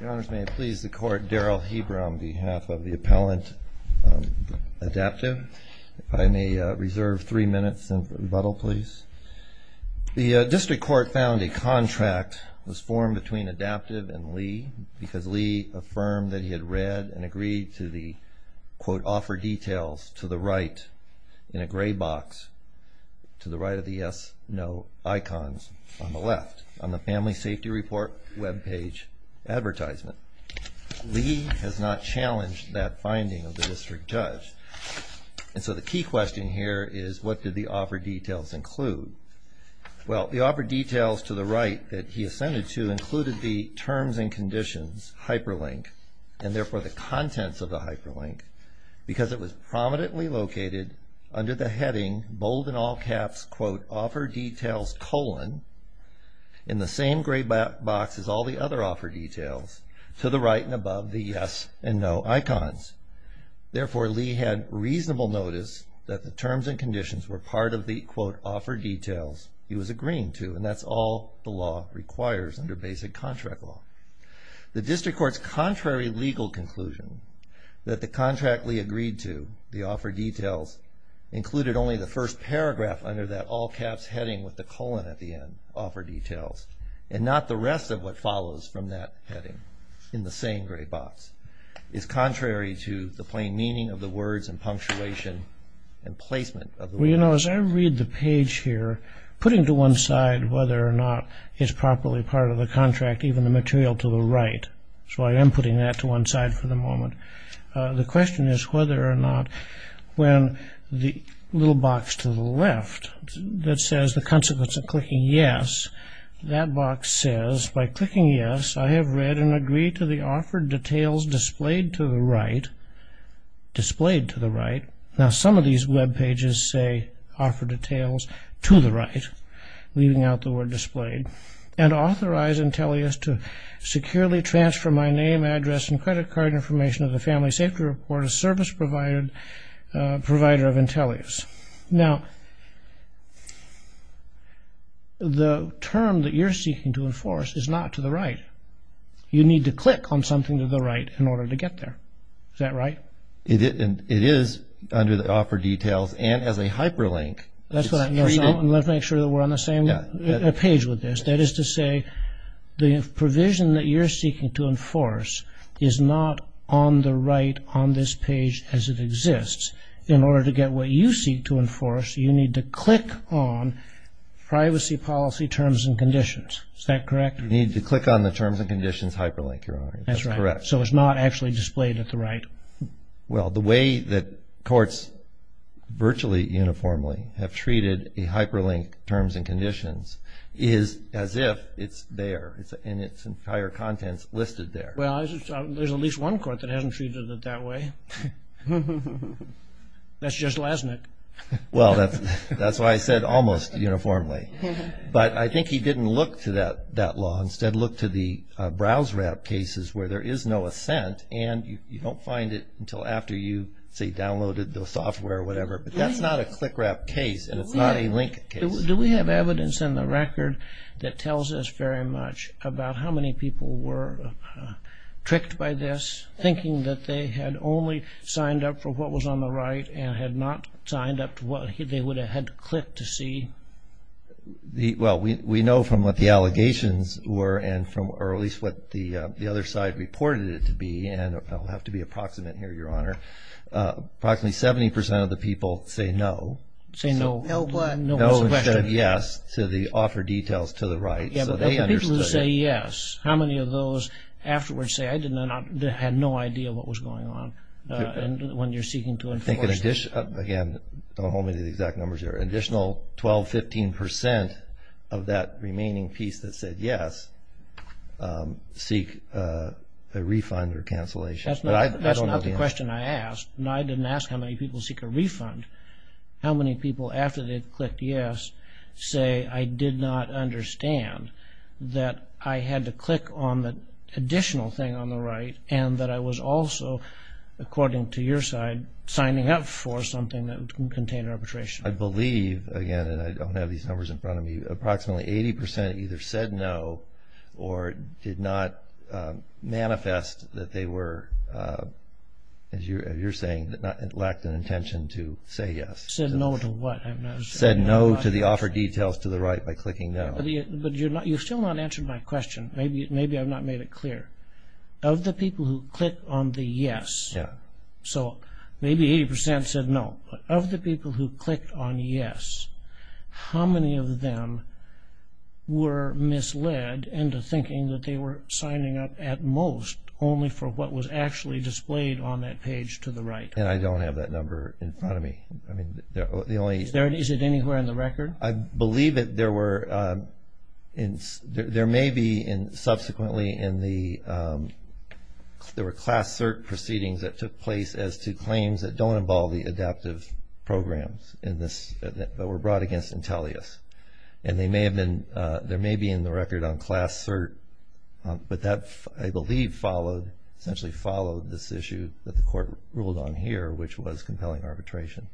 The District Court found a contract was formed between Adaptive and Lee because Lee affirmed that he had read and agreed to offer details to the right in a gray box to the right of the yes no icons on the left on the family safety report web page address. Lee has not challenged that finding of the district judge. And so the key question here is what did the offer details include? Well, the offer details to the right that he ascended to included the terms and conditions hyperlink and therefore the contents of the hyperlink because it was prominently located under the heading bold in all caps quote offer details colon in the same gray box as all the other offer details to the right and above the yes and no icons. Therefore, Lee had reasonable notice that the terms and conditions were part of the quote offer details he was agreeing to and that's all the law requires under basic contract law. The District Court's contrary legal conclusion that the contract Lee agreed to the offer details included only the first paragraph under that all caps heading with the colon at the end offer details and not the rest of what follows from that heading in the same gray box is contrary to the plain meaning of the words and punctuation and placement of the words. So as I read the page here, putting to one side whether or not it's properly part of the contract, even the material to the right, so I am putting that to one side for the moment. The question is whether or not when the little box to the left that says the consequence of clicking yes, that box says by clicking yes, I have read and agreed to the offer details displayed to the right, displayed to the right. Now some of these web pages say offer details to the right, leaving out the word displayed, and authorize Intellius to securely transfer my name, address, and credit card information of the family safety report of service provider of Intellius. Now the term that you're seeking to enforce is not to the right. You need to click on something to the right in order to get there. Is that right? It is under the offer details and as a hyperlink. Let's make sure that we're on the same page with this. That is to say the provision that you're seeking to enforce is not on the right on this page as it exists. In order to get what you seek to enforce, you need to click on privacy policy terms and conditions. Is that correct? You need to click on the terms and conditions hyperlink, Your Honor. That's correct. So it's not actually displayed at the right. Well, the way that courts virtually uniformly have treated a hyperlink terms and conditions is as if it's there and it's in higher contents listed there. Well, there's at least one court that hasn't treated it that way. That's just Lesnick. Well, that's why I said almost uniformly. But I think he didn't look to that law. Instead, look to the browse rap cases where there is no assent and you don't find it until after you, say, downloaded the software or whatever. But that's not a click rap case and it's not a link case. Do we have evidence in the record that tells us very much about how many people were tricked by this, thinking that they had only signed up for what was on the right and had not signed up to what they would have had to click to see? Well, we know from what the allegations were, or at least what the other side reported it to be, and I'll have to be approximate here, Your Honor. Approximately 70% of the people say no. Say no what? No instead of yes to the offer details to the right. But the people who say yes, how many of those afterwards say, I had no idea what was going on when you're seeking to enforce this? Again, don't hold me to the exact numbers there. An additional 12, 15% of that remaining piece that said yes seek a refund or cancellation. That's not the question I asked. I didn't ask how many people seek a refund. How many people after they clicked yes say, I did not understand that I had to click on the additional thing on the right and that I was also, according to your side, signing up for something that contained arbitration? I believe, again, and I don't have these numbers in front of me, approximately 80% either said no or did not manifest that they were, as you're saying, lacked an intention to say yes. Said no to what? Said no to the offer details to the right by clicking no. But you've still not answered my question. Maybe I've not made it clear. Of the people who clicked on the yes, so maybe 80% said no. Of the people who clicked on yes, how many of them were misled into thinking that they were signing up at most only for what was actually displayed on that page to the right? And I don't have that number in front of me. Is it anywhere in the record? I believe that there were, there may be subsequently in the, there were class cert proceedings that took place as to claims that don't involve the adaptive programs in this, that were brought against Intellius. And they may have been, there may be in the record on class cert, but that, I believe, followed, essentially followed this issue that the court ruled on here, which was compelling arbitration.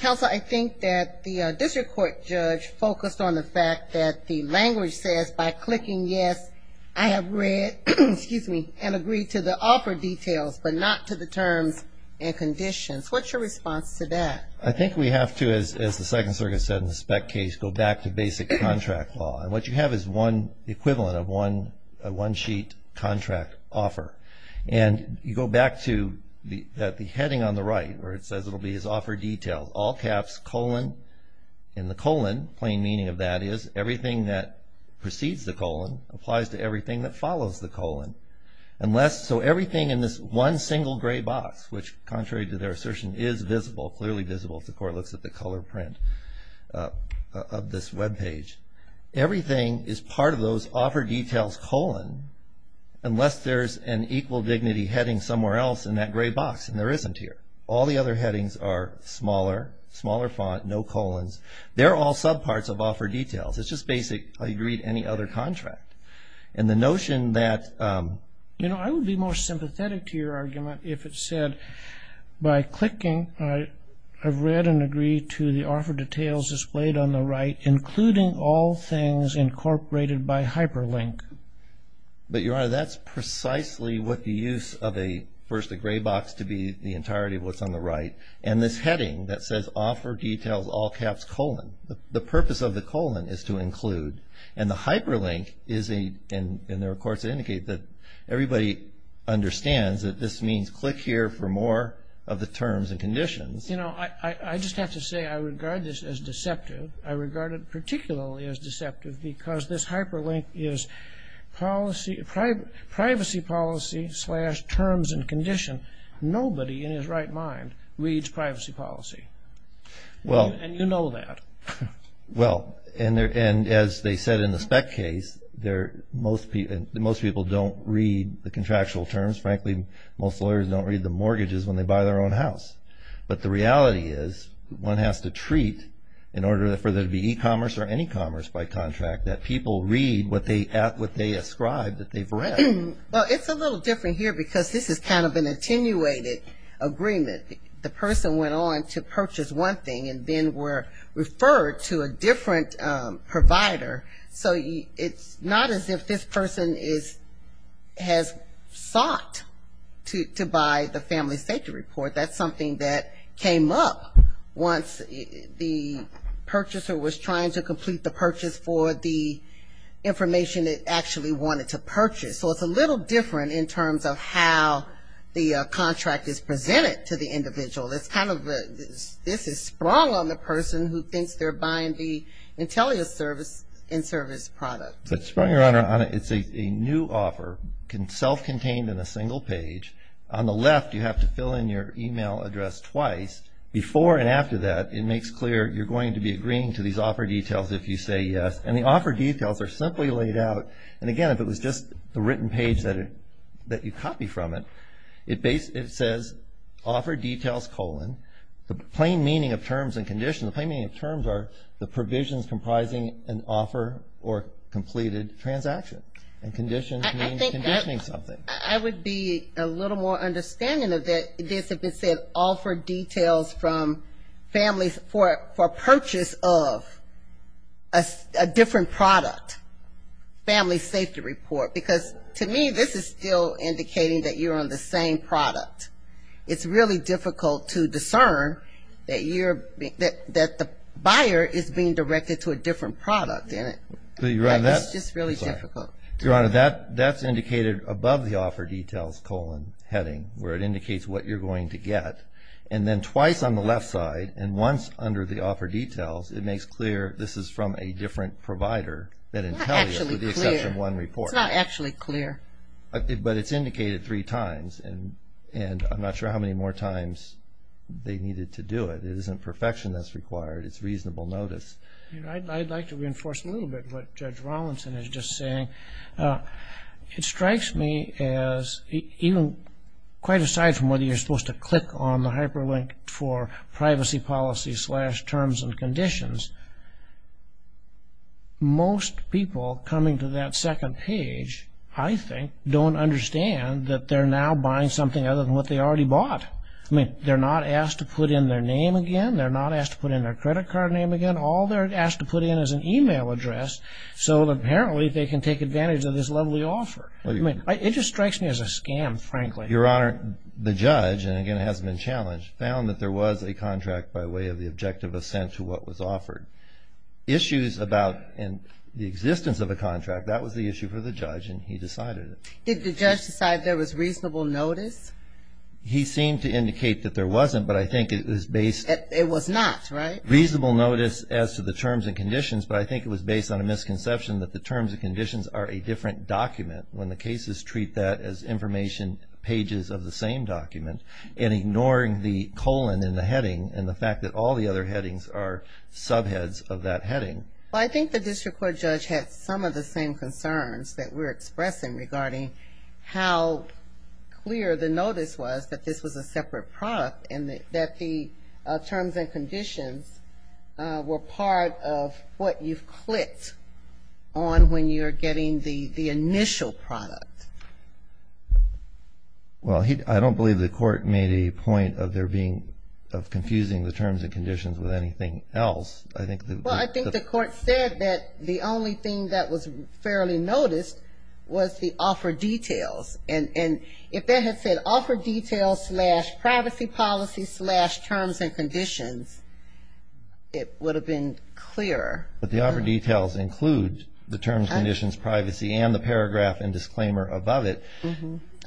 Counsel, I think that the district court judge focused on the fact that the language says by clicking yes, I have read, excuse me, and agreed to the offer details, but not to the terms and conditions. What's your response to that? I think we have to, as the Second Circuit said in the Speck case, go back to basic contract law. And what you have is one, the equivalent of one, a one-sheet contract offer. And you go back to the heading on the right where it says it will be as offer details, all caps, colon, and the colon, plain meaning of that is everything that precedes the colon applies to everything that follows the colon. Unless, so everything in this one single gray box, which contrary to their assertion is visible, clearly visible if the court looks at the color print of this webpage. Everything is part of those offer details, colon, unless there's an equal dignity heading somewhere else in that gray box, and there isn't here. All the other headings are smaller, smaller font, no colons. They're all subparts of offer details. It's just basic, I agree to any other contract. And the notion that, you know, I would be more sympathetic to your argument if it said by clicking, I've read and agree to the offer details displayed on the right, including all things incorporated by hyperlink. But, Your Honor, that's precisely what the use of a, first, a gray box to be the entirety of what's on the right. And this heading that says offer details, all caps, colon, the purpose of the colon is to include. And the hyperlink is a, and there are courts that indicate that everybody understands that this means click here for more of the terms and conditions. You know, I just have to say I regard this as deceptive. I regard it particularly as deceptive because this hyperlink is privacy policy slash terms and condition. Nobody in his right mind reads privacy policy. Well. And you know that. Well, and as they said in the spec case, most people don't read the contractual terms. Frankly, most lawyers don't read the mortgages when they buy their own house. But the reality is one has to treat, in order for there to be e-commerce or any commerce by contract, that people read what they ascribe that they've read. Well, it's a little different here because this is kind of an attenuated agreement. The person went on to purchase one thing and then were referred to a different provider. So it's not as if this person is, has sought to buy the family safety report. That's something that came up once the purchaser was trying to complete the purchase for the information it actually wanted to purchase. So it's a little different in terms of how the contract is presented to the individual. It's kind of a, this is sprung on the person who thinks they're buying the intelligence service and service product. It's a new offer, self-contained in a single page. On the left, you have to fill in your e-mail address twice. Before and after that, it makes clear you're going to be agreeing to these offer details if you say yes. And the offer details are simply laid out. And again, if it was just the written page that you copy from it, it says offer details colon, the plain meaning of terms and conditions, the plain meaning of terms are the provisions comprising an offer or completed transaction. And conditions mean conditioning something. I would be a little more understanding of this if it said offer details from families for purchase of a different product, family safety report. Because to me, this is still indicating that you're on the same product. It's really difficult to discern that the buyer is being directed to a different product, isn't it? It's just really difficult. Your Honor, that's indicated above the offer details colon heading, where it indicates what you're going to get. And then twice on the left side, and once under the offer details, it makes clear this is from a different provider that entails the exception one report. It's not actually clear. But it's indicated three times. And I'm not sure how many more times they needed to do it. It isn't perfection that's required. It's reasonable notice. I'd like to reinforce a little bit what Judge Rawlinson is just saying. It strikes me as even quite aside from whether you're supposed to click on the hyperlink for privacy policy slash terms and conditions. Most people coming to that second page, I think, don't understand that they're now buying something other than what they already bought. I mean, they're not asked to put in their name again. They're not asked to put in their credit card name again. All they're asked to put in is an e-mail address, so apparently they can take advantage of this lovely offer. It just strikes me as a scam, frankly. Your Honor, the judge, and again it hasn't been challenged, found that there was a contract by way of the objective assent to what was offered. Issues about the existence of a contract, that was the issue for the judge, and he decided it. Did the judge decide there was reasonable notice? He seemed to indicate that there wasn't, but I think it was based. It was not, right? Reasonable notice as to the terms and conditions, but I think it was based on a misconception that the terms and conditions are a different document when the cases treat that as information pages of the same document and ignoring the colon and the heading and the fact that all the other headings are subheads of that heading. Well, I think the district court judge had some of the same concerns that we're expressing regarding how clear the notice was that this was a separate product and that the terms and conditions were part of what you've clicked on when you're getting the initial product. Well, I don't believe the court made a point of confusing the terms and conditions with anything else. Well, I think the court said that the only thing that was fairly noticed was the offer details, and if they had said offer details slash privacy policy slash terms and conditions, it would have been clearer. But the offer details include the terms, conditions, privacy, and the paragraph and disclaimer above it.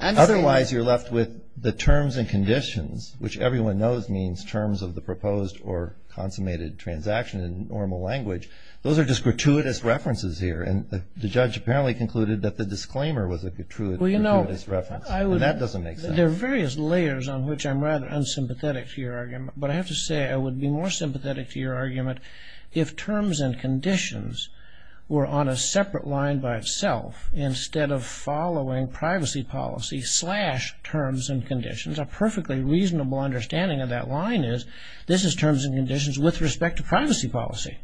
Otherwise, you're left with the terms and conditions, which everyone knows means terms of the proposed or consummated transaction in normal language. Those are just gratuitous references here, and the judge apparently concluded that the disclaimer was a gratuitous reference, and that doesn't make sense. There are various layers on which I'm rather unsympathetic to your argument, but I have to say I would be more sympathetic to your argument if terms and conditions were on a separate line by itself instead of following privacy policy slash terms and conditions. A perfectly reasonable understanding of that line is this is terms and conditions with respect to privacy policy.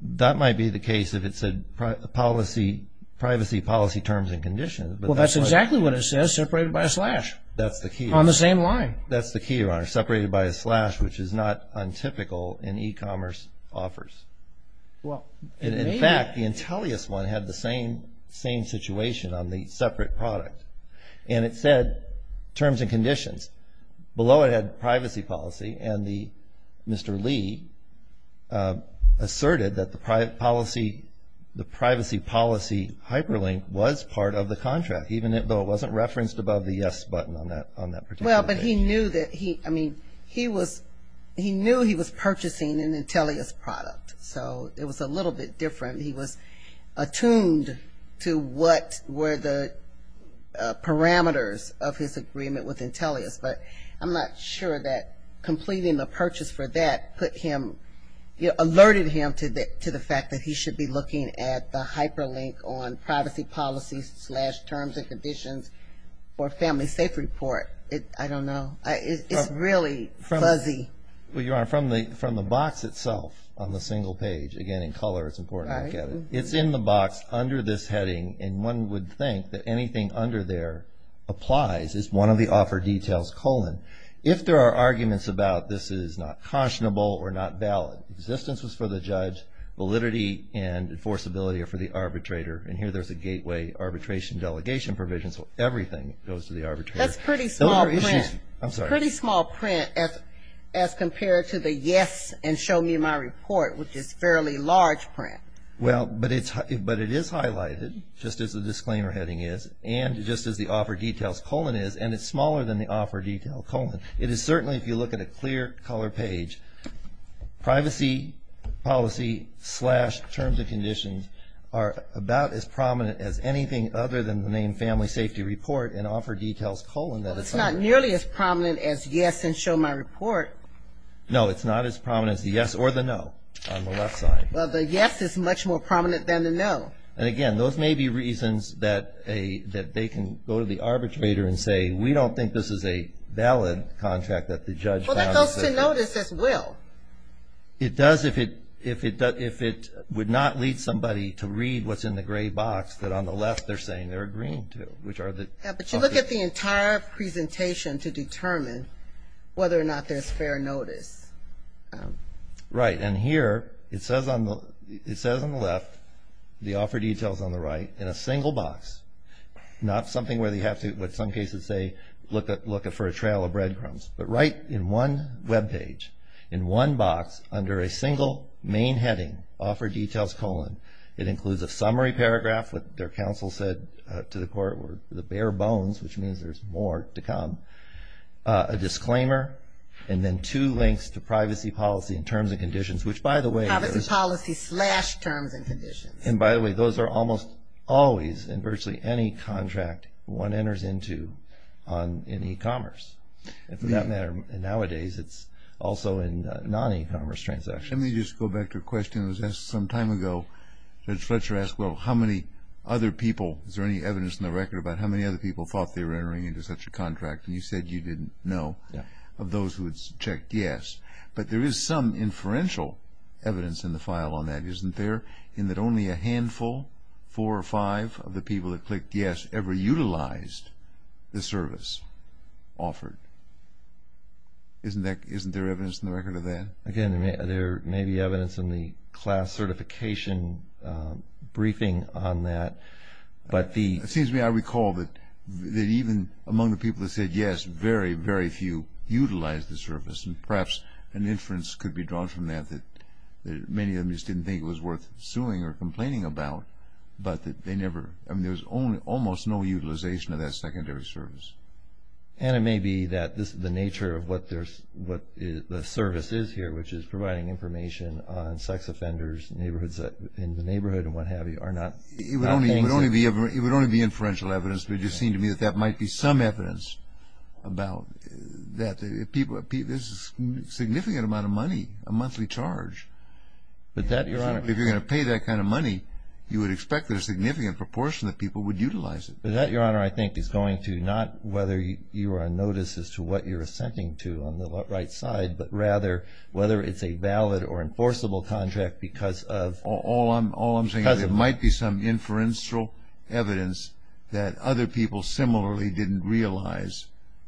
That might be the case if it said privacy policy terms and conditions. Well, that's exactly what it says, separated by a slash. That's the key. On the same line. That's the key, Your Honor. Separated by a slash, which is not untypical in e-commerce offers. In fact, the Intellius one had the same situation on the separate product, and it said terms and conditions. Below it had privacy policy, and Mr. Lee asserted that the privacy policy hyperlink was part of the contract, even though it wasn't referenced above the yes button on that particular page. Well, but he knew that he, I mean, he was, he knew he was purchasing an Intellius product, so it was a little bit different. He was attuned to what were the parameters of his agreement with Intellius, but I'm not sure that completing the purchase for that put him, alerted him to the fact that he should be looking at the hyperlink on privacy policy slash terms and conditions or family safe report. I don't know. It's really fuzzy. Well, Your Honor, from the box itself on the single page, again, in color, it's important to look at it, it's in the box under this heading, and one would think that anything under there applies. It's one of the offer details, colon. If there are arguments about this is not cautionable or not valid, existence was for the judge, validity and enforceability are for the arbitrator, and here there's a gateway arbitration delegation provision, so everything goes to the arbitrator. That's pretty small print. I'm sorry. Pretty small print as compared to the yes and show me my report, which is fairly large print. Well, but it is highlighted, just as the disclaimer heading is, and just as the offer details colon is, and it's smaller than the offer detail colon. It is certainly, if you look at a clear color page, privacy policy slash terms and conditions are about as prominent as anything other than the name family safety report and offer details colon. Well, it's not nearly as prominent as yes and show my report. No, it's not as prominent as the yes or the no on the left side. Well, the yes is much more prominent than the no. And, again, those may be reasons that they can go to the arbitrator and say, we don't think this is a valid contract that the judge has. Well, that goes to notice as well. It does if it would not lead somebody to read what's in the gray box that on the left they're saying they're agreeing to. But you look at the entire presentation to determine whether or not there's fair notice. Right. And here it says on the left, the offer details on the right, in a single box, not something where they have to, in some cases, say, look for a trail of breadcrumbs. But right in one web page, in one box, under a single main heading, offer details colon, it includes a summary paragraph, what their counsel said to the court were the bare bones, which means there's more to come, a disclaimer, and then two links to privacy policy and terms and conditions, which, by the way- Privacy policy slash terms and conditions. And, by the way, those are almost always in virtually any contract one enters into in e-commerce. And for that matter, nowadays, it's also in non-e-commerce transactions. Let me just go back to a question that was asked some time ago. Judge Fletcher asked, well, how many other people, is there any evidence in the record about how many other people thought they were entering into such a contract? And you said you didn't know of those who had checked yes. But there is some inferential evidence in the file on that, isn't there, in that only a handful, four or five of the people that clicked yes, ever utilized the service offered. Isn't there evidence in the record of that? Again, there may be evidence in the class certification briefing on that. But the- It seems to me I recall that even among the people that said yes, very, very few utilized the service. And perhaps an inference could be drawn from that that many of them just didn't think it was worth suing or complaining about. But they never-I mean, there's almost no utilization of that secondary service. And it may be that the nature of what the service is here, which is providing information on sex offenders in the neighborhood and what have you, are not- It would only be inferential evidence. But it just seemed to me that that might be some evidence about that. There's a significant amount of money, a monthly charge. But that, Your Honor- If you're going to pay that kind of money, you would expect that a significant proportion of people would utilize it. But that, Your Honor, I think is going to not whether you are on notice as to what you're assenting to on the right side, but rather whether it's a valid or enforceable contract because of- All I'm saying is there might be some inferential evidence that other people similarly didn't realize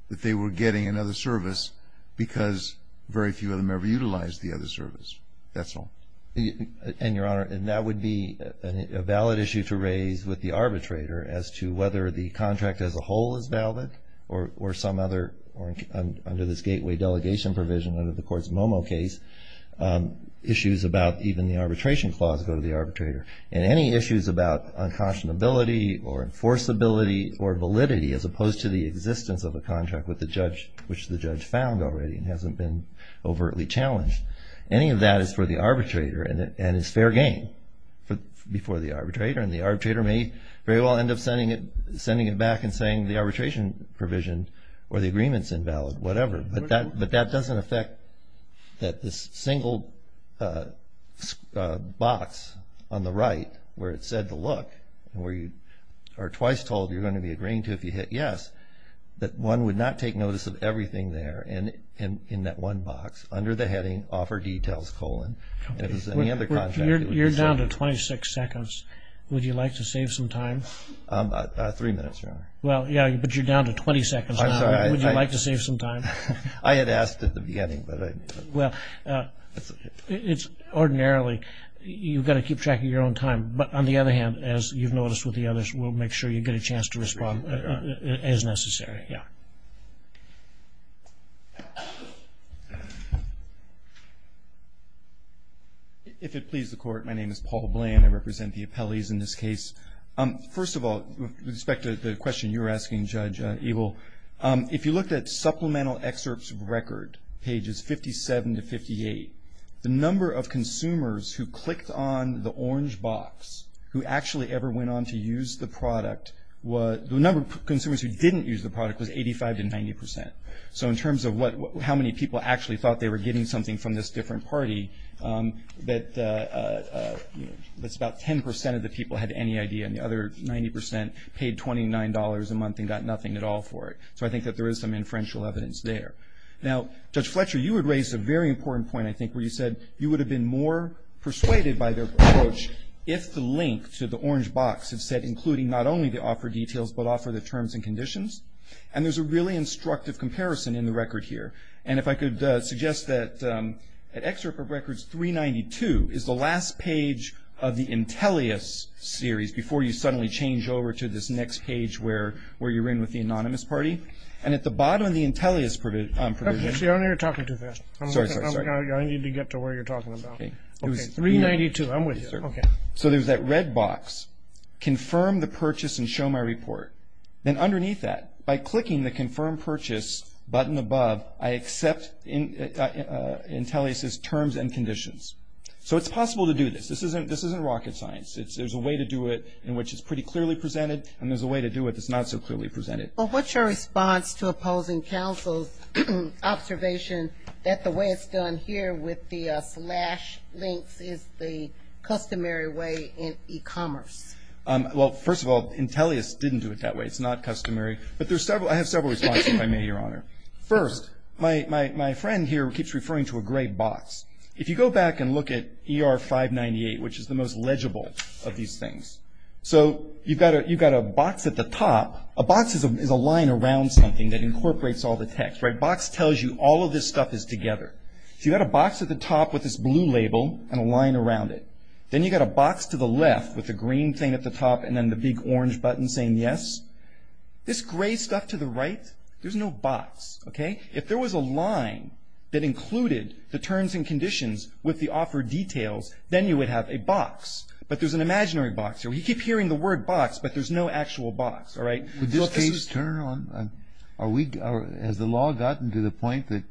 that they were getting another service because very few of them ever utilized the other service. That's all. And, Your Honor, that would be a valid issue to raise with the arbitrator as to whether the contract as a whole is valid or some other- case, issues about even the arbitration clause go to the arbitrator. And any issues about unconscionability or enforceability or validity as opposed to the existence of a contract which the judge found already and hasn't been overtly challenged, any of that is for the arbitrator and is fair game before the arbitrator. And the arbitrator may very well end up sending it back and saying the arbitration provision or the agreement's invalid, whatever. But that doesn't affect that this single box on the right where it said to look and where you are twice told you're going to be agreeing to if you hit yes, that one would not take notice of everything there in that one box under the heading, offer details, colon, as any other contract. You're down to 26 seconds. Would you like to save some time? Three minutes, Your Honor. I'm sorry. Would you like to save some time? I had asked at the beginning. Well, ordinarily you've got to keep track of your own time. But on the other hand, as you've noticed with the others, we'll make sure you get a chance to respond as necessary. Yeah. If it pleases the Court, my name is Paul Bland. I represent the appellees in this case. First of all, with respect to the question you were asking, Judge Eagle, if you looked at supplemental excerpts of record, pages 57 to 58, the number of consumers who clicked on the orange box who actually ever went on to use the product, the number of consumers who didn't use the product was 85 to 90%. So in terms of how many people actually thought they were getting something from this different party, that's about 10% of the people had any idea, and the other 90% paid $29 a month and got nothing at all for it. So I think that there is some inferential evidence there. Now, Judge Fletcher, you had raised a very important point, I think, where you said you would have been more persuaded by their approach if the link to the orange box had said including not only the offer details, but offer the terms and conditions. And there's a really instructive comparison in the record here. And if I could suggest that at excerpt of records 392 is the last page of the Intellius series before you suddenly change over to this next page where you're in with the anonymous party. And at the bottom of the Intellius provision... You're talking too fast. Sorry, sorry, sorry. I need to get to where you're talking about. Okay. 392, I'm with you. Okay. So there's that red box, confirm the purchase and show my report. Then underneath that, by clicking the confirm purchase button above, I accept Intellius's terms and conditions. So it's possible to do this. This isn't rocket science. There's a way to do it in which it's pretty clearly presented, and there's a way to do it that's not so clearly presented. But what's your response to opposing counsel's observation that the way it's done here with the slash links is the customary way in e-commerce? Well, first of all, Intellius didn't do it that way. It's not customary. But I have several responses, if I may, Your Honor. First, my friend here keeps referring to a gray box. If you go back and look at ER-598, which is the most legible of these things, so you've got a box at the top. A box is a line around something that incorporates all the text, right? A box tells you all of this stuff is together. So you've got a box at the top with this blue label and a line around it. Then you've got a box to the left with the green thing at the top and then the big orange button saying yes. This gray stuff to the right, there's no box, okay? If there was a line that included the terms and conditions with the offered details, then you would have a box. But there's an imaginary box. You keep hearing the word box, but there's no actual box, all right? Has the law gotten to the point that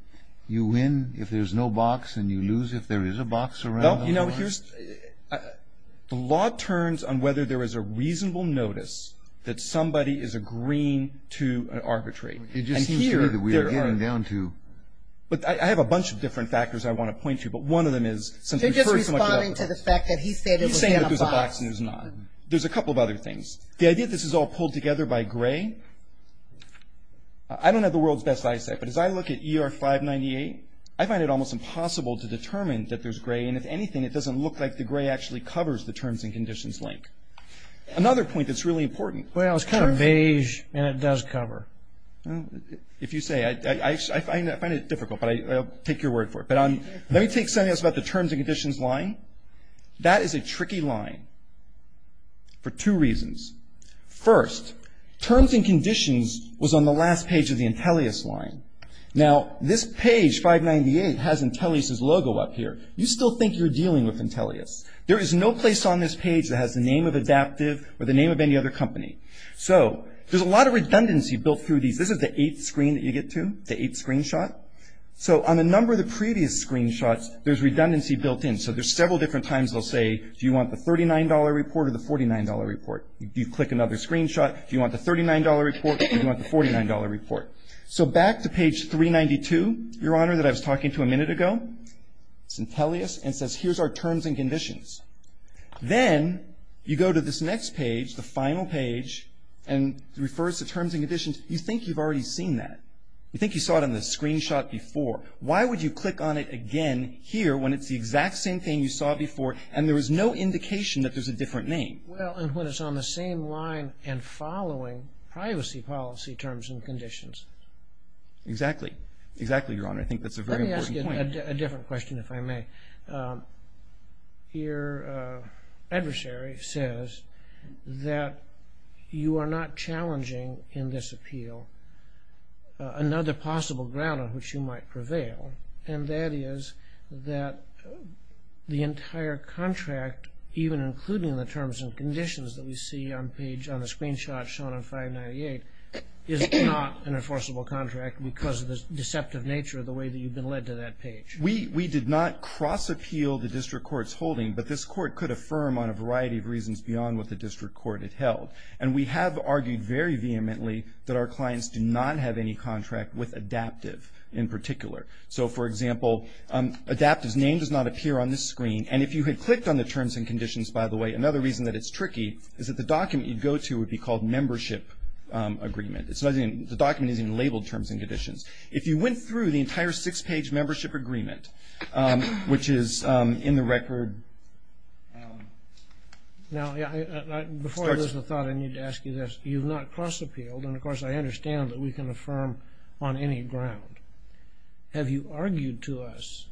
you win if there's no box and you lose if there is a box around it? Well, you know, the law turns on whether there is a reasonable notice that somebody is agreeing to an arbitrate. And here they're going down to. But I have a bunch of different factors I want to point to, but one of them is since we've heard so much about it. You're just responding to the fact that he said it was in a box. He's saying that there's a box and there's not. There's a couple of other things. The idea that this is all pulled together by gray, I don't have the world's best eyesight, but as I look at ER-598, I find it almost impossible to determine that there's gray and if anything it doesn't look like the gray actually covers the terms and conditions link. Another point that's really important. Well, it's kind of beige and it does cover. If you say. I find it difficult, but I'll take your word for it. But let me take something else about the terms and conditions line. That is a tricky line for two reasons. First, terms and conditions was on the last page of the intellis line. Now, this page, 598, has intellis's logo up here. You still think you're dealing with intellis. There is no place on this page that has the name of Adaptive or the name of any other company. So there's a lot of redundancy built through these. This is the eighth screen that you get to, the eighth screenshot. So on the number of the previous screenshots, there's redundancy built in. So there's several different times they'll say, do you want the $39 report or the $49 report? You click another screenshot. Do you want the $39 report or do you want the $49 report? So back to page 392, Your Honor, that I was talking to a minute ago. It's intellis and says, here's our terms and conditions. Then you go to this next page, the final page, and it refers to terms and conditions. You think you've already seen that. You think you saw it on the screenshot before. Why would you click on it again here when it's the exact same thing you saw before and there is no indication that there's a different name? Well, and when it's on the same line and following privacy policy terms and conditions. Exactly. Exactly, Your Honor. I think that's a very important point. Let me ask you a different question, if I may. Your adversary says that you are not challenging in this appeal another possible ground on which you might prevail, and that is that the entire contract, even including the terms and conditions that we see on the screenshot shown on 598, is not an enforceable contract because of the deceptive nature of the way that you've been led to that page. We did not cross-appeal the district court's holding, but this court could affirm on a variety of reasons beyond what the district court had held, and we have argued very vehemently that our clients do not have any contract with Adaptive in particular. So, for example, Adaptive's name does not appear on this screen, and if you had clicked on the terms and conditions, by the way, another reason that it's tricky is that the document you'd go to would be called membership agreement. The document isn't even labeled terms and conditions. If you went through the entire six-page membership agreement, which is in the record. Now, before I lose the thought, I need to ask you this. You've not cross-appealed, and of course I understand that we can affirm on any ground. Have you argued to us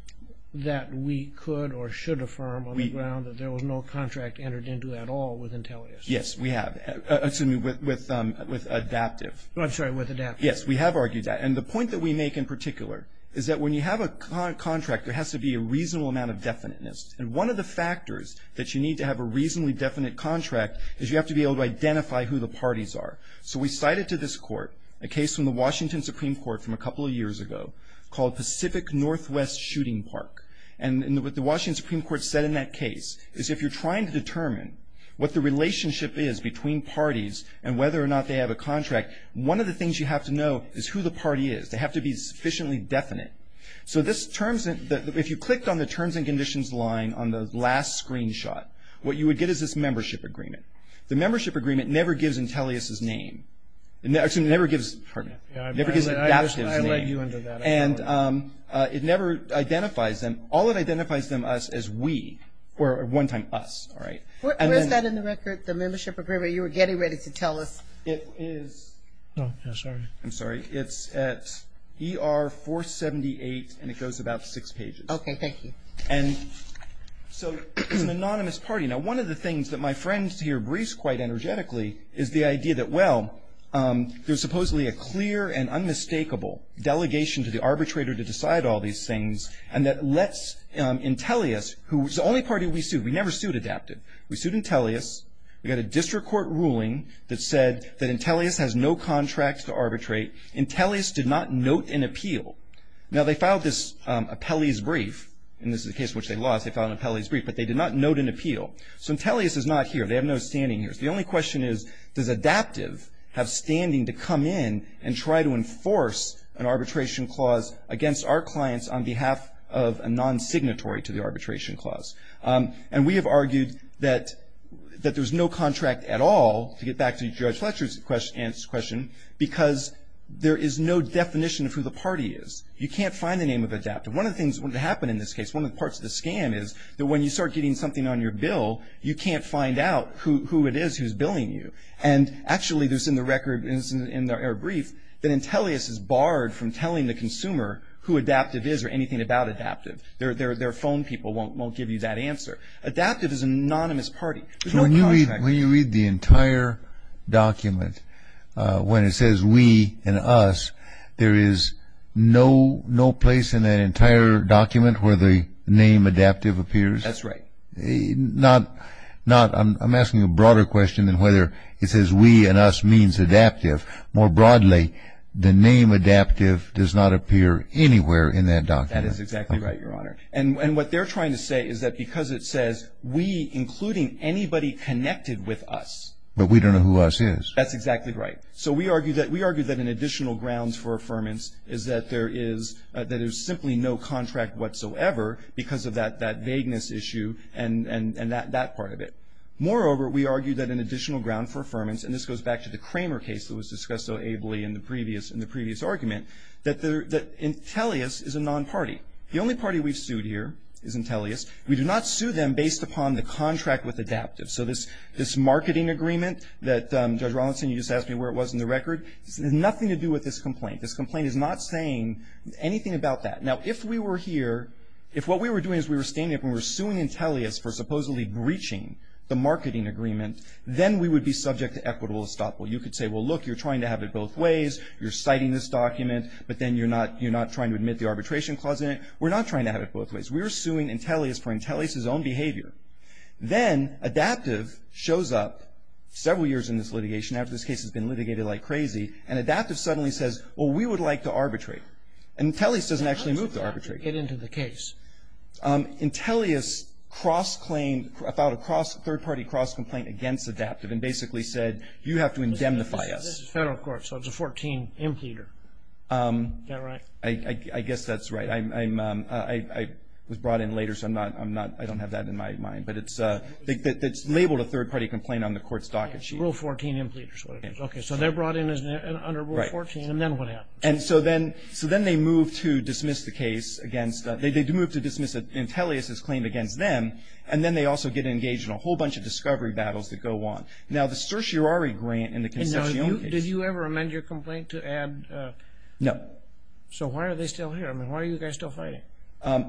that we could or should affirm on the ground that there was no contract entered into at all with Intellius? Yes, we have. Excuse me, with Adaptive. I'm sorry, with Adaptive. Yes, we have argued that. And the point that we make in particular is that when you have a contract, there has to be a reasonable amount of definiteness. And one of the factors that you need to have a reasonably definite contract is you have to be able to identify who the parties are. So we cited to this court a case from the Washington Supreme Court from a couple of years ago called Pacific Northwest Shooting Park. And what the Washington Supreme Court said in that case is if you're trying to determine what the relationship is between parties and whether or not they have a contract, one of the things you have to know is who the party is. They have to be sufficiently definite. So if you clicked on the terms and conditions line on the last screenshot, what you would get is this membership agreement. The membership agreement never gives Intellius his name. Excuse me, never gives Adaptive his name. I led you into that. And it never identifies them. All it identifies them as is we, or at one time us. Where is that in the record, the membership agreement? You were getting ready to tell us. It is at ER 478, and it goes about six pages. Okay, thank you. And so it's an anonymous party. Now, one of the things that my friend here briefs quite energetically is the idea that, well, there's supposedly a clear and unmistakable delegation to the arbitrator to decide all these things, and that lets Intellius, who is the only party we sued. We never sued Adaptive. We sued Intellius. We got a district court ruling that said that Intellius has no contracts to arbitrate. Intellius did not note an appeal. Now, they filed this appellee's brief, and this is a case which they lost. They filed an appellee's brief, but they did not note an appeal. So Intellius is not here. They have no standing here. The only question is, does Adaptive have standing to come in and try to enforce an arbitration clause against our clients on behalf of a non-signatory to the arbitration clause? And we have argued that there's no contract at all, to get back to Judge Fletcher's question, because there is no definition of who the party is. You can't find the name of Adaptive. One of the things that happened in this case, one of the parts of the scam, is that when you start getting something on your bill, you can't find out who it is who's billing you. And actually, there's in the record, in their brief, that Intellius is barred from telling the consumer who Adaptive is or anything about Adaptive. Their phone people won't give you that answer. Adaptive is an anonymous party. There's no contract. When you read the entire document, when it says we and us, there is no place in that entire document where the name Adaptive appears? That's right. I'm asking a broader question than whether it says we and us means Adaptive. More broadly, the name Adaptive does not appear anywhere in that document. That is exactly right, Your Honor. And what they're trying to say is that because it says we, including anybody connected with us. But we don't know who us is. That's exactly right. So we argue that an additional ground for affirmance is that there is simply no contract whatsoever because of that vagueness issue and that part of it. Moreover, we argue that an additional ground for affirmance, and this goes back to the Kramer case that was discussed so ably in the previous argument, that Intellius is a non-party. The only party we've sued here is Intellius. We do not sue them based upon the contract with Adaptive. So this marketing agreement that Judge Rollinson, you just asked me where it was in the record, has nothing to do with this complaint. This complaint is not saying anything about that. Now, if we were here, if what we were doing is we were standing up and we were suing Intellius for supposedly breaching the marketing agreement, then we would be subject to equitable estoppel. You could say, well, look, you're trying to have it both ways. You're citing this document, but then you're not trying to admit the arbitration clause in it. We're not trying to have it both ways. We're suing Intellius for Intellius's own behavior. Then Adaptive shows up several years in this litigation, after this case has been litigated like crazy, and Adaptive suddenly says, well, we would like to arbitrate. And Intellius doesn't actually move to arbitrate. How does Adaptive get into the case? Intellius cross-claimed, filed a third-party cross-complaint against Adaptive and basically said, you have to indemnify us. This is federal court, so it's a 14-impleader. Is that right? I guess that's right. I was brought in later, so I don't have that in my mind. But it's labeled a third-party complaint on the court's docket sheet. Rule 14 impleaders. Okay, so they're brought in under Rule 14, and then what happens? And so then they move to dismiss the case against – they move to dismiss Intellius's claim against them, and then they also get engaged in a whole bunch of discovery battles that go on. Now, the certiorari grant in the Concepcion case – Now, did you ever amend your complaint to add – No. So why are they still here? I mean, why are you guys still fighting?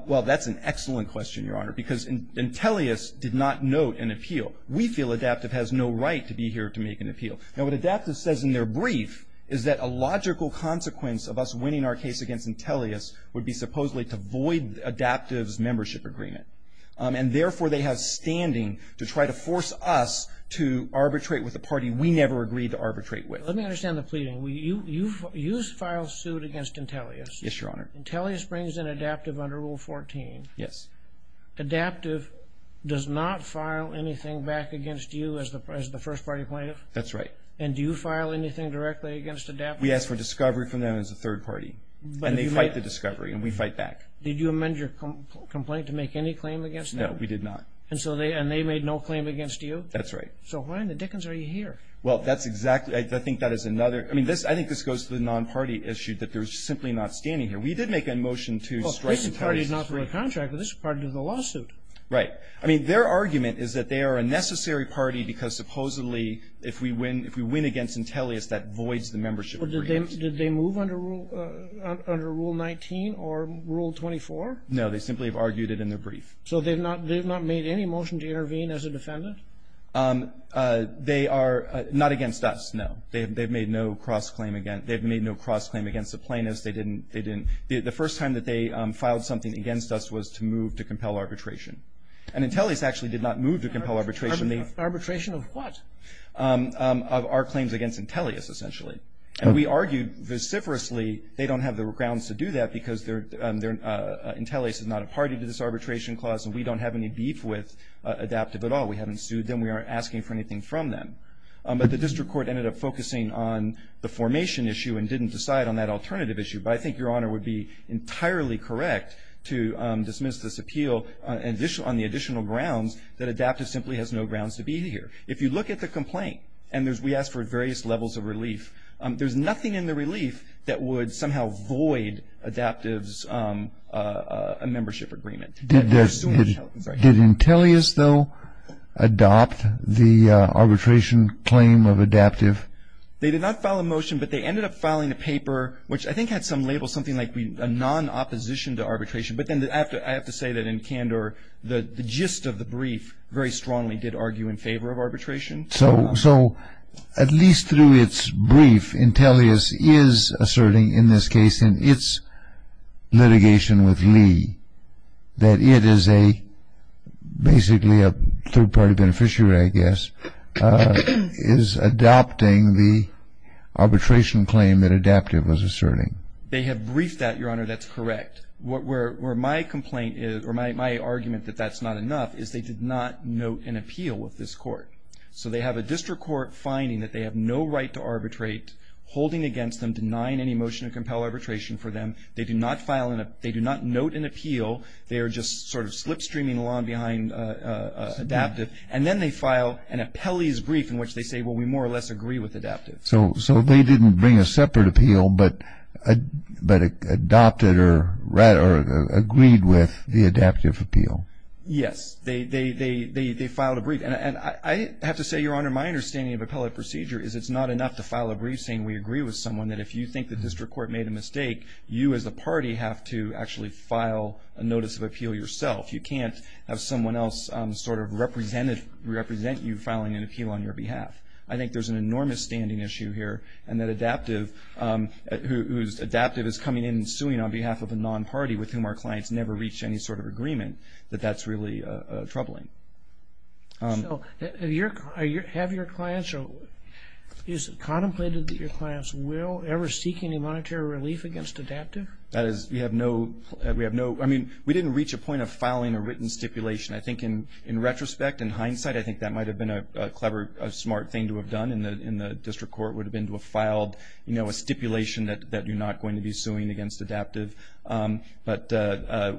Well, that's an excellent question, Your Honor, because Intellius did not note an appeal. We feel Adaptive has no right to be here to make an appeal. Now, what Adaptive says in their brief is that a logical consequence of us winning our case against Intellius would be supposedly to void Adaptive's membership agreement. And therefore, they have standing to try to force us to arbitrate with a party we never agreed to arbitrate with. Let me understand the pleading. You filed suit against Intellius. Yes, Your Honor. Intellius brings in Adaptive under Rule 14. Yes. Adaptive does not file anything back against you as the first-party plaintiff? That's right. And do you file anything directly against Adaptive? We ask for discovery from them as a third party, and they fight the discovery, and we fight back. Did you amend your complaint to make any claim against them? No, we did not. And they made no claim against you? That's right. So why in the dickens are you here? Well, I think that is another. I mean, I think this goes to the non-party issue that they're simply not standing here. We did make a motion to strike Intellius. Well, this is a party not for a contract, but this is a party to the lawsuit. Right. I mean, their argument is that they are a necessary party because supposedly if we win against Intellius, that voids the membership agreement. Did they move under Rule 19 or Rule 24? No, they simply have argued it in their brief. So they have not made any motion to intervene as a defendant? They are not against us, no. They have made no cross-claim against the plaintiffs. They didn't. The first time that they filed something against us was to move to compel arbitration. And Intellius actually did not move to compel arbitration. Arbitration of what? Of our claims against Intellius, essentially. And we argued vociferously they don't have the grounds to do that because Intellius is not a party to this arbitration clause and we don't have any beef with Adaptive at all. We haven't sued them. We aren't asking for anything from them. But the district court ended up focusing on the formation issue and didn't decide on that alternative issue. But I think Your Honor would be entirely correct to dismiss this appeal on the additional grounds that Adaptive simply has no grounds to be here. If you look at the complaint and we asked for various levels of relief, there's nothing in the relief that would somehow void Adaptive's membership agreement. Did Intellius, though, adopt the arbitration claim of Adaptive? They did not file a motion, but they ended up filing a paper, which I think had some label something like a non-opposition to arbitration. But then I have to say that in candor the gist of the brief very strongly did argue in favor of arbitration. So at least through its brief, Intellius is asserting in this case in its litigation with Lee that it is basically a third-party beneficiary, I guess, is adopting the arbitration claim that Adaptive was asserting. They have briefed that, Your Honor. That's correct. My argument that that's not enough is they did not note an appeal with this court. So they have a district court finding that they have no right to arbitrate, holding against them, denying any motion to compel arbitration for them. They do not note an appeal. They are just sort of slipstreaming along behind Adaptive. And then they file an appellee's brief in which they say, well, we more or less agree with Adaptive. So they didn't bring a separate appeal but adopted or agreed with the Adaptive appeal. Yes. They filed a brief. And I have to say, Your Honor, my understanding of appellate procedure is it's not enough to file a brief saying we agree with someone, that if you think the district court made a mistake, you as a party have to actually file a notice of appeal yourself. You can't have someone else sort of represent you filing an appeal on your behalf. I think there's an enormous standing issue here, and that Adaptive, whose Adaptive is coming in and suing on behalf of a non-party with whom our clients never reached any sort of agreement, that that's really troubling. So have your clients or is it contemplated that your clients will ever seek any monetary relief against Adaptive? That is, we have no, I mean, we didn't reach a point of filing a written stipulation. I think in retrospect, in hindsight, I think that might have been a clever, smart thing to have done and the district court would have been to have filed a stipulation that you're not going to be suing against Adaptive. But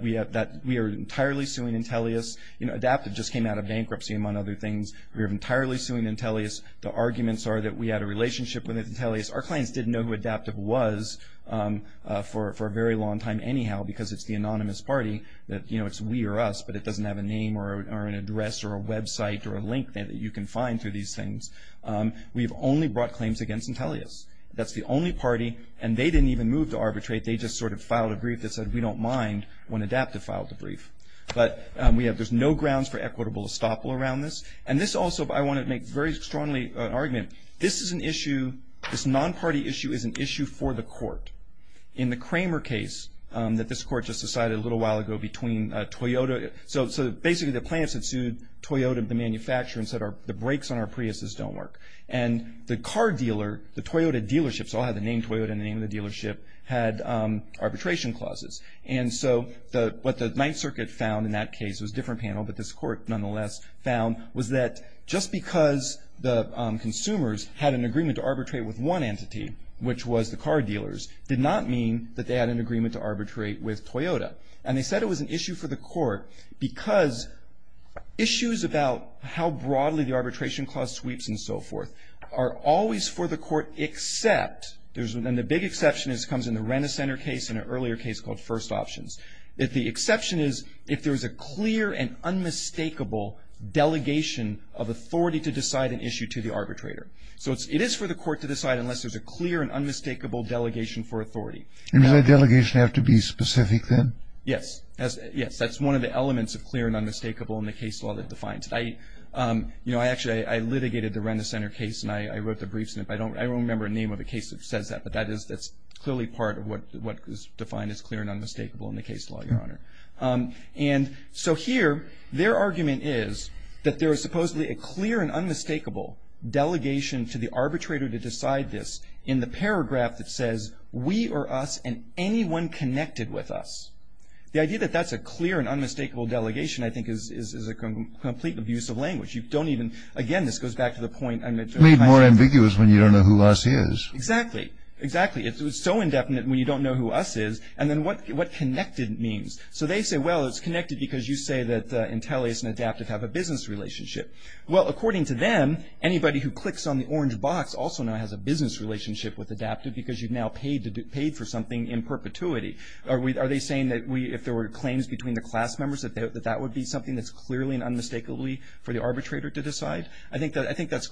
we are entirely suing Intellius. Adaptive just came out of bankruptcy, among other things. We are entirely suing Intellius. The arguments are that we had a relationship with Intellius. Our clients didn't know who Adaptive was for a very long time anyhow because it's the anonymous party. You know, it's we or us, but it doesn't have a name or an address or a website or a link that you can find through these things. We've only brought claims against Intellius. That's the only party, and they didn't even move to arbitrate. They just sort of filed a brief that said we don't mind when Adaptive filed a brief. But we have, there's no grounds for equitable estoppel around this. And this also, I want to make very strongly an argument. This is an issue, this non-party issue is an issue for the court. In the Kramer case that this court just decided a little while ago between Toyota, so basically the plaintiffs had sued Toyota, the manufacturer, and said the brakes on our Priuses don't work. And the car dealer, the Toyota dealership, so I'll have the name Toyota and the name of the dealership, had arbitration clauses. And so what the Ninth Circuit found in that case, it was a different panel, but this court nonetheless found was that just because the consumers had an agreement to arbitrate with one entity, which was the car dealers, did not mean that they had an agreement to arbitrate with Toyota. And they said it was an issue for the court because issues about how broadly the arbitration clause sweeps and so forth are always for the court except, and the big exception comes in the Renner Center case and an earlier case called First Options. The exception is if there's a clear and unmistakable delegation of authority to decide an issue to the arbitrator. So it is for the court to decide unless there's a clear and unmistakable delegation for authority. And does that delegation have to be specific then? Yes. Yes, that's one of the elements of clear and unmistakable in the case law that defines it. You know, I actually litigated the Renner Center case and I wrote the briefs, and I don't remember a name of a case that says that, but that's clearly part of what is defined as clear and unmistakable in the case law, Your Honor. And so here, their argument is that there is supposedly a clear and unmistakable delegation to the arbitrator to decide this in the paragraph that says, we or us and anyone connected with us. The idea that that's a clear and unmistakable delegation, I think, is a complete abuse of language. You don't even, again, this goes back to the point I made. Made more ambiguous when you don't know who us is. Exactly. Exactly. It's so indefinite when you don't know who us is. And then what connected means. So they say, well, it's connected because you say that Intellius and Adaptive have a business relationship. Well, according to them, anybody who clicks on the orange box also now has a business relationship with Adaptive because you've now paid for something in perpetuity. Are they saying that if there were claims between the class members, that that would be something that's clearly and unmistakably for the arbitrator to decide? I think that's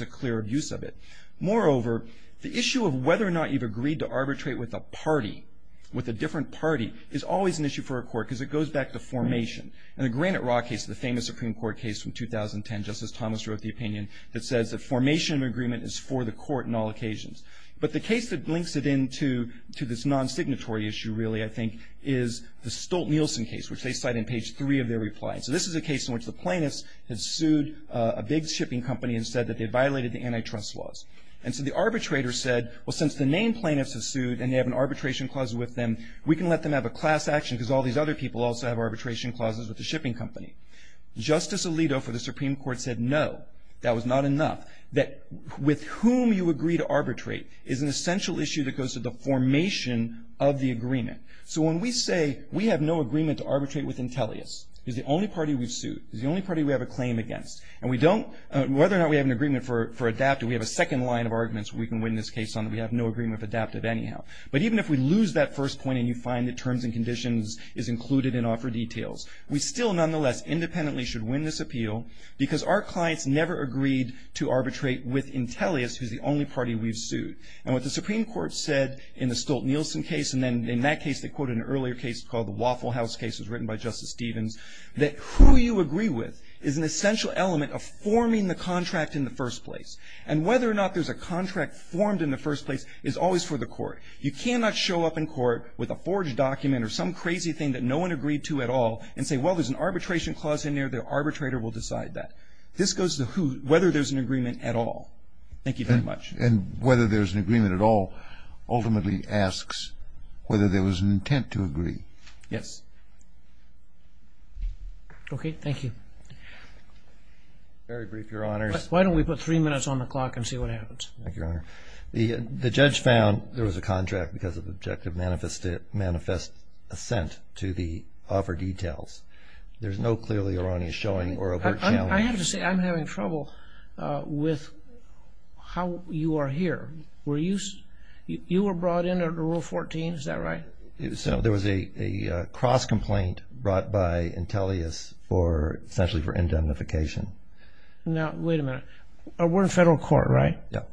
a clear abuse of it. Moreover, the issue of whether or not you've agreed to arbitrate with a party, with a different party, is always an issue for a court because it goes back to formation. In the Granite Rock case, the famous Supreme Court case from 2010, Justice Thomas wrote the opinion that says that formation of agreement is for the court on all occasions. But the case that links it into this non-signatory issue, really, I think, is the Stolt-Nielsen case, which they cite in page three of their reply. So this is a case in which the plaintiffs had sued a big shipping company and said that they violated the antitrust laws. And so the arbitrator said, well, since the named plaintiffs have sued and they have an arbitration clause with them, we can let them have a class action because all these other people also have arbitration clauses with the shipping company. Justice Alito for the Supreme Court said no, that was not enough, that with whom you agree to arbitrate is an essential issue that goes to the formation of the agreement. So when we say we have no agreement to arbitrate with Intellius, who's the only party we've sued, who's the only party we have a claim against, and we don't, whether or not we have an agreement for adaptive, we have a second line of arguments we can win this case on that we have no agreement of adaptive anyhow. But even if we lose that first point and you find that terms and conditions is included in offer details, we still nonetheless independently should win this appeal because our clients never agreed to arbitrate with Intellius, who's the only party we've sued. And what the Supreme Court said in the Stolt-Nielsen case, and then in that case they quoted an earlier case called the Waffle House case that was written by Justice Stevens, that who you agree with is an essential element of forming the contract in the first place. And whether or not there's a contract formed in the first place is always for the court. You cannot show up in court with a forged document or some crazy thing that no one agreed to at all and say, well, there's an arbitration clause in there, the arbitrator will decide that. This goes to whether there's an agreement at all. Thank you very much. And whether there's an agreement at all ultimately asks whether there was an intent to agree. Yes. Okay, thank you. Very brief, Your Honors. Why don't we put three minutes on the clock and see what happens? Thank you, Your Honor. The judge found there was a contract because of objective manifest assent to the offer details. There's no clear that you're only showing or overt challenge. I have to say I'm having trouble with how you are here. You were brought in under Rule 14, is that right? There was a cross-complaint brought by Intellius essentially for indemnification. Now, wait a minute. We're in federal court, right? Yes.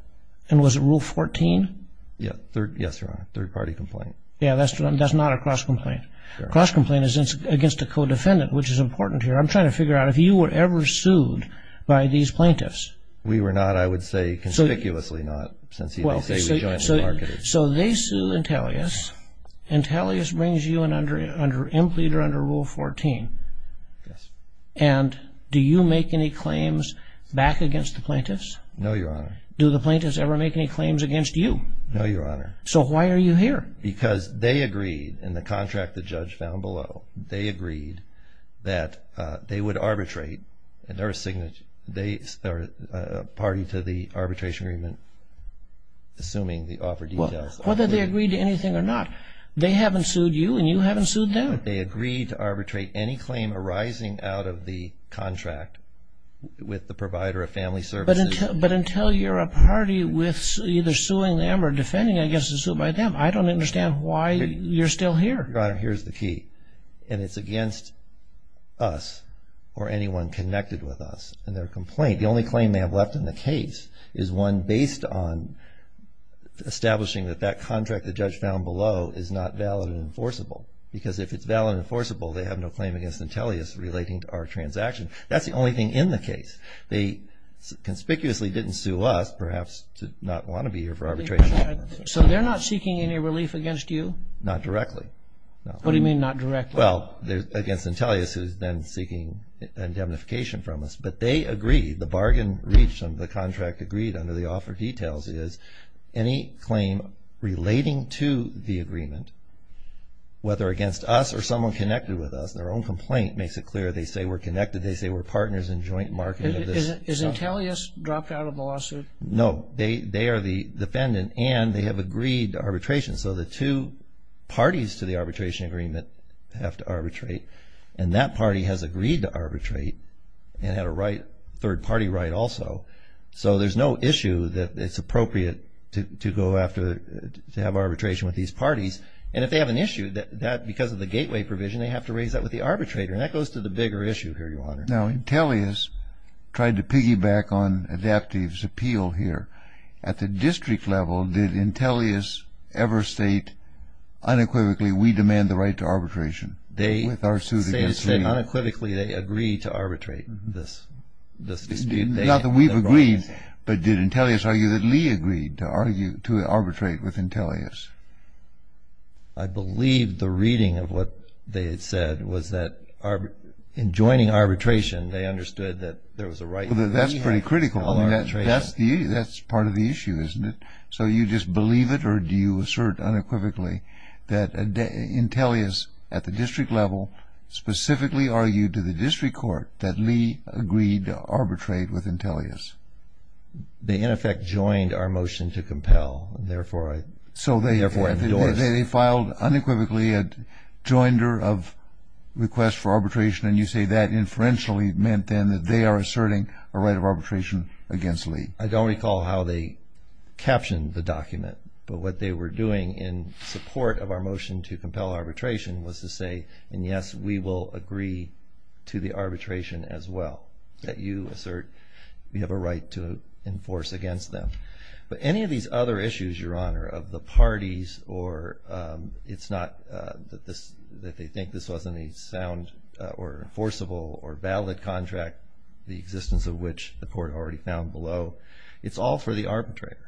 And was it Rule 14? Yes, Your Honor, third-party complaint. Yes, that's not a cross-complaint. A cross-complaint is against a co-defendant, which is important here. I'm trying to figure out if you were ever sued by these plaintiffs. We were not. I would say conspicuously not since they say we're jointly marketed. So they sue Intellius. Intellius brings you in under Implied or under Rule 14. Yes. And do you make any claims back against the plaintiffs? No, Your Honor. Do the plaintiffs ever make any claims against you? No, Your Honor. So why are you here? Because they agreed in the contract the judge found below, they agreed that they would arbitrate and they're a party to the arbitration agreement, assuming the offer details. Whether they agreed to anything or not, they haven't sued you and you haven't sued them? They agreed to arbitrate any claim arising out of the contract with the provider of family services. But until you're a party with either suing them or defending against a suit by them, I don't understand why you're still here. Your Honor, here's the key. And it's against us or anyone connected with us in their complaint. The only claim they have left in the case is one based on establishing that that contract the judge found below is not valid and enforceable. Because if it's valid and enforceable, they have no claim against Intellius relating to our transaction. That's the only thing in the case. They conspicuously didn't sue us, perhaps to not want to be here for arbitration. So they're not seeking any relief against you? Not directly. What do you mean not directly? Well, against Intellius, who's then seeking indemnification from us. But they agreed, the bargain reached under the contract agreed under the offer details is any claim relating to the agreement, whether against us or someone connected with us, their own complaint makes it clear they say we're connected, they say we're partners in joint marketing of this. Is Intellius dropped out of the lawsuit? No. They are the defendant and they have agreed to arbitration. So the two parties to the arbitration agreement have to arbitrate. And that party has agreed to arbitrate and had a right, third-party right also. So there's no issue that it's appropriate to go after, to have arbitration with these parties. And if they have an issue, that because of the gateway provision, they have to raise that with the arbitrator. And that goes to the bigger issue here, Your Honor. Now, Intellius tried to piggyback on Adaptive's appeal here. At the district level, did Intellius ever state unequivocally we demand the right to arbitration? They said unequivocally they agreed to arbitrate this dispute. Not that we've agreed, but did Intellius argue that Lee agreed to arbitrate with Intellius? I believe the reading of what they had said was that in joining arbitration, they understood that there was a right. That's pretty critical. That's part of the issue, isn't it? So you just believe it or do you assert unequivocally that Intellius at the district level specifically argued to the district court that Lee agreed to arbitrate with Intellius? They, in effect, joined our motion to compel. So they filed unequivocally a joinder of request for arbitration, and you say that inferentially meant then that they are asserting a right of arbitration against Lee. I don't recall how they captioned the document, but what they were doing in support of our motion to compel arbitration was to say, and yes, we will agree to the arbitration as well that you assert we have a right to enforce against them. But any of these other issues, Your Honor, of the parties or it's not that they think this wasn't a sound or enforceable or valid contract, the existence of which the court already found below, it's all for the arbitrator.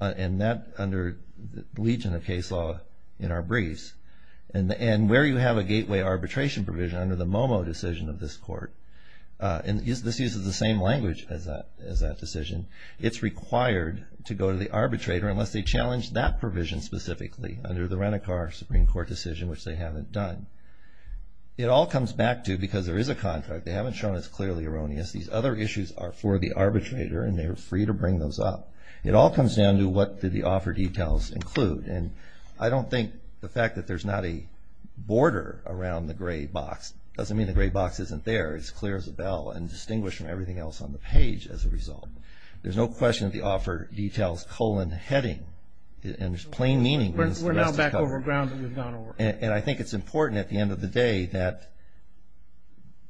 And that, under the legion of case law in our briefs, and where you have a gateway arbitration provision under the MOMO decision of this court, and this uses the same language as that decision, it's required to go to the arbitrator unless they challenge that provision specifically under the Renicar Supreme Court decision, which they haven't done. It all comes back to, because there is a contract, they haven't shown it's clearly erroneous. These other issues are for the arbitrator, and they are free to bring those up. It all comes down to what do the offer details include, and I don't think the fact that there's not a border around the gray box doesn't mean the gray box isn't there. It's clear as a bell and distinguished from everything else on the page as a result. There's no question that the offer details colon heading, and there's plain meaning to the rest of the cover. We're now back over ground that we've gone over. And I think it's important at the end of the day that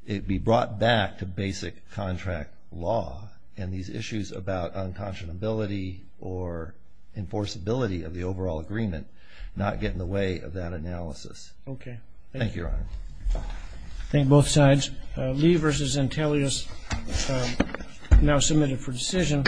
it be brought back to basic contract law and these issues about unconscionability or enforceability of the overall agreement not get in the way of that analysis. Okay. Thank you, Your Honor. Thank you, both sides. Lee versus Zantelius now submitted for decision.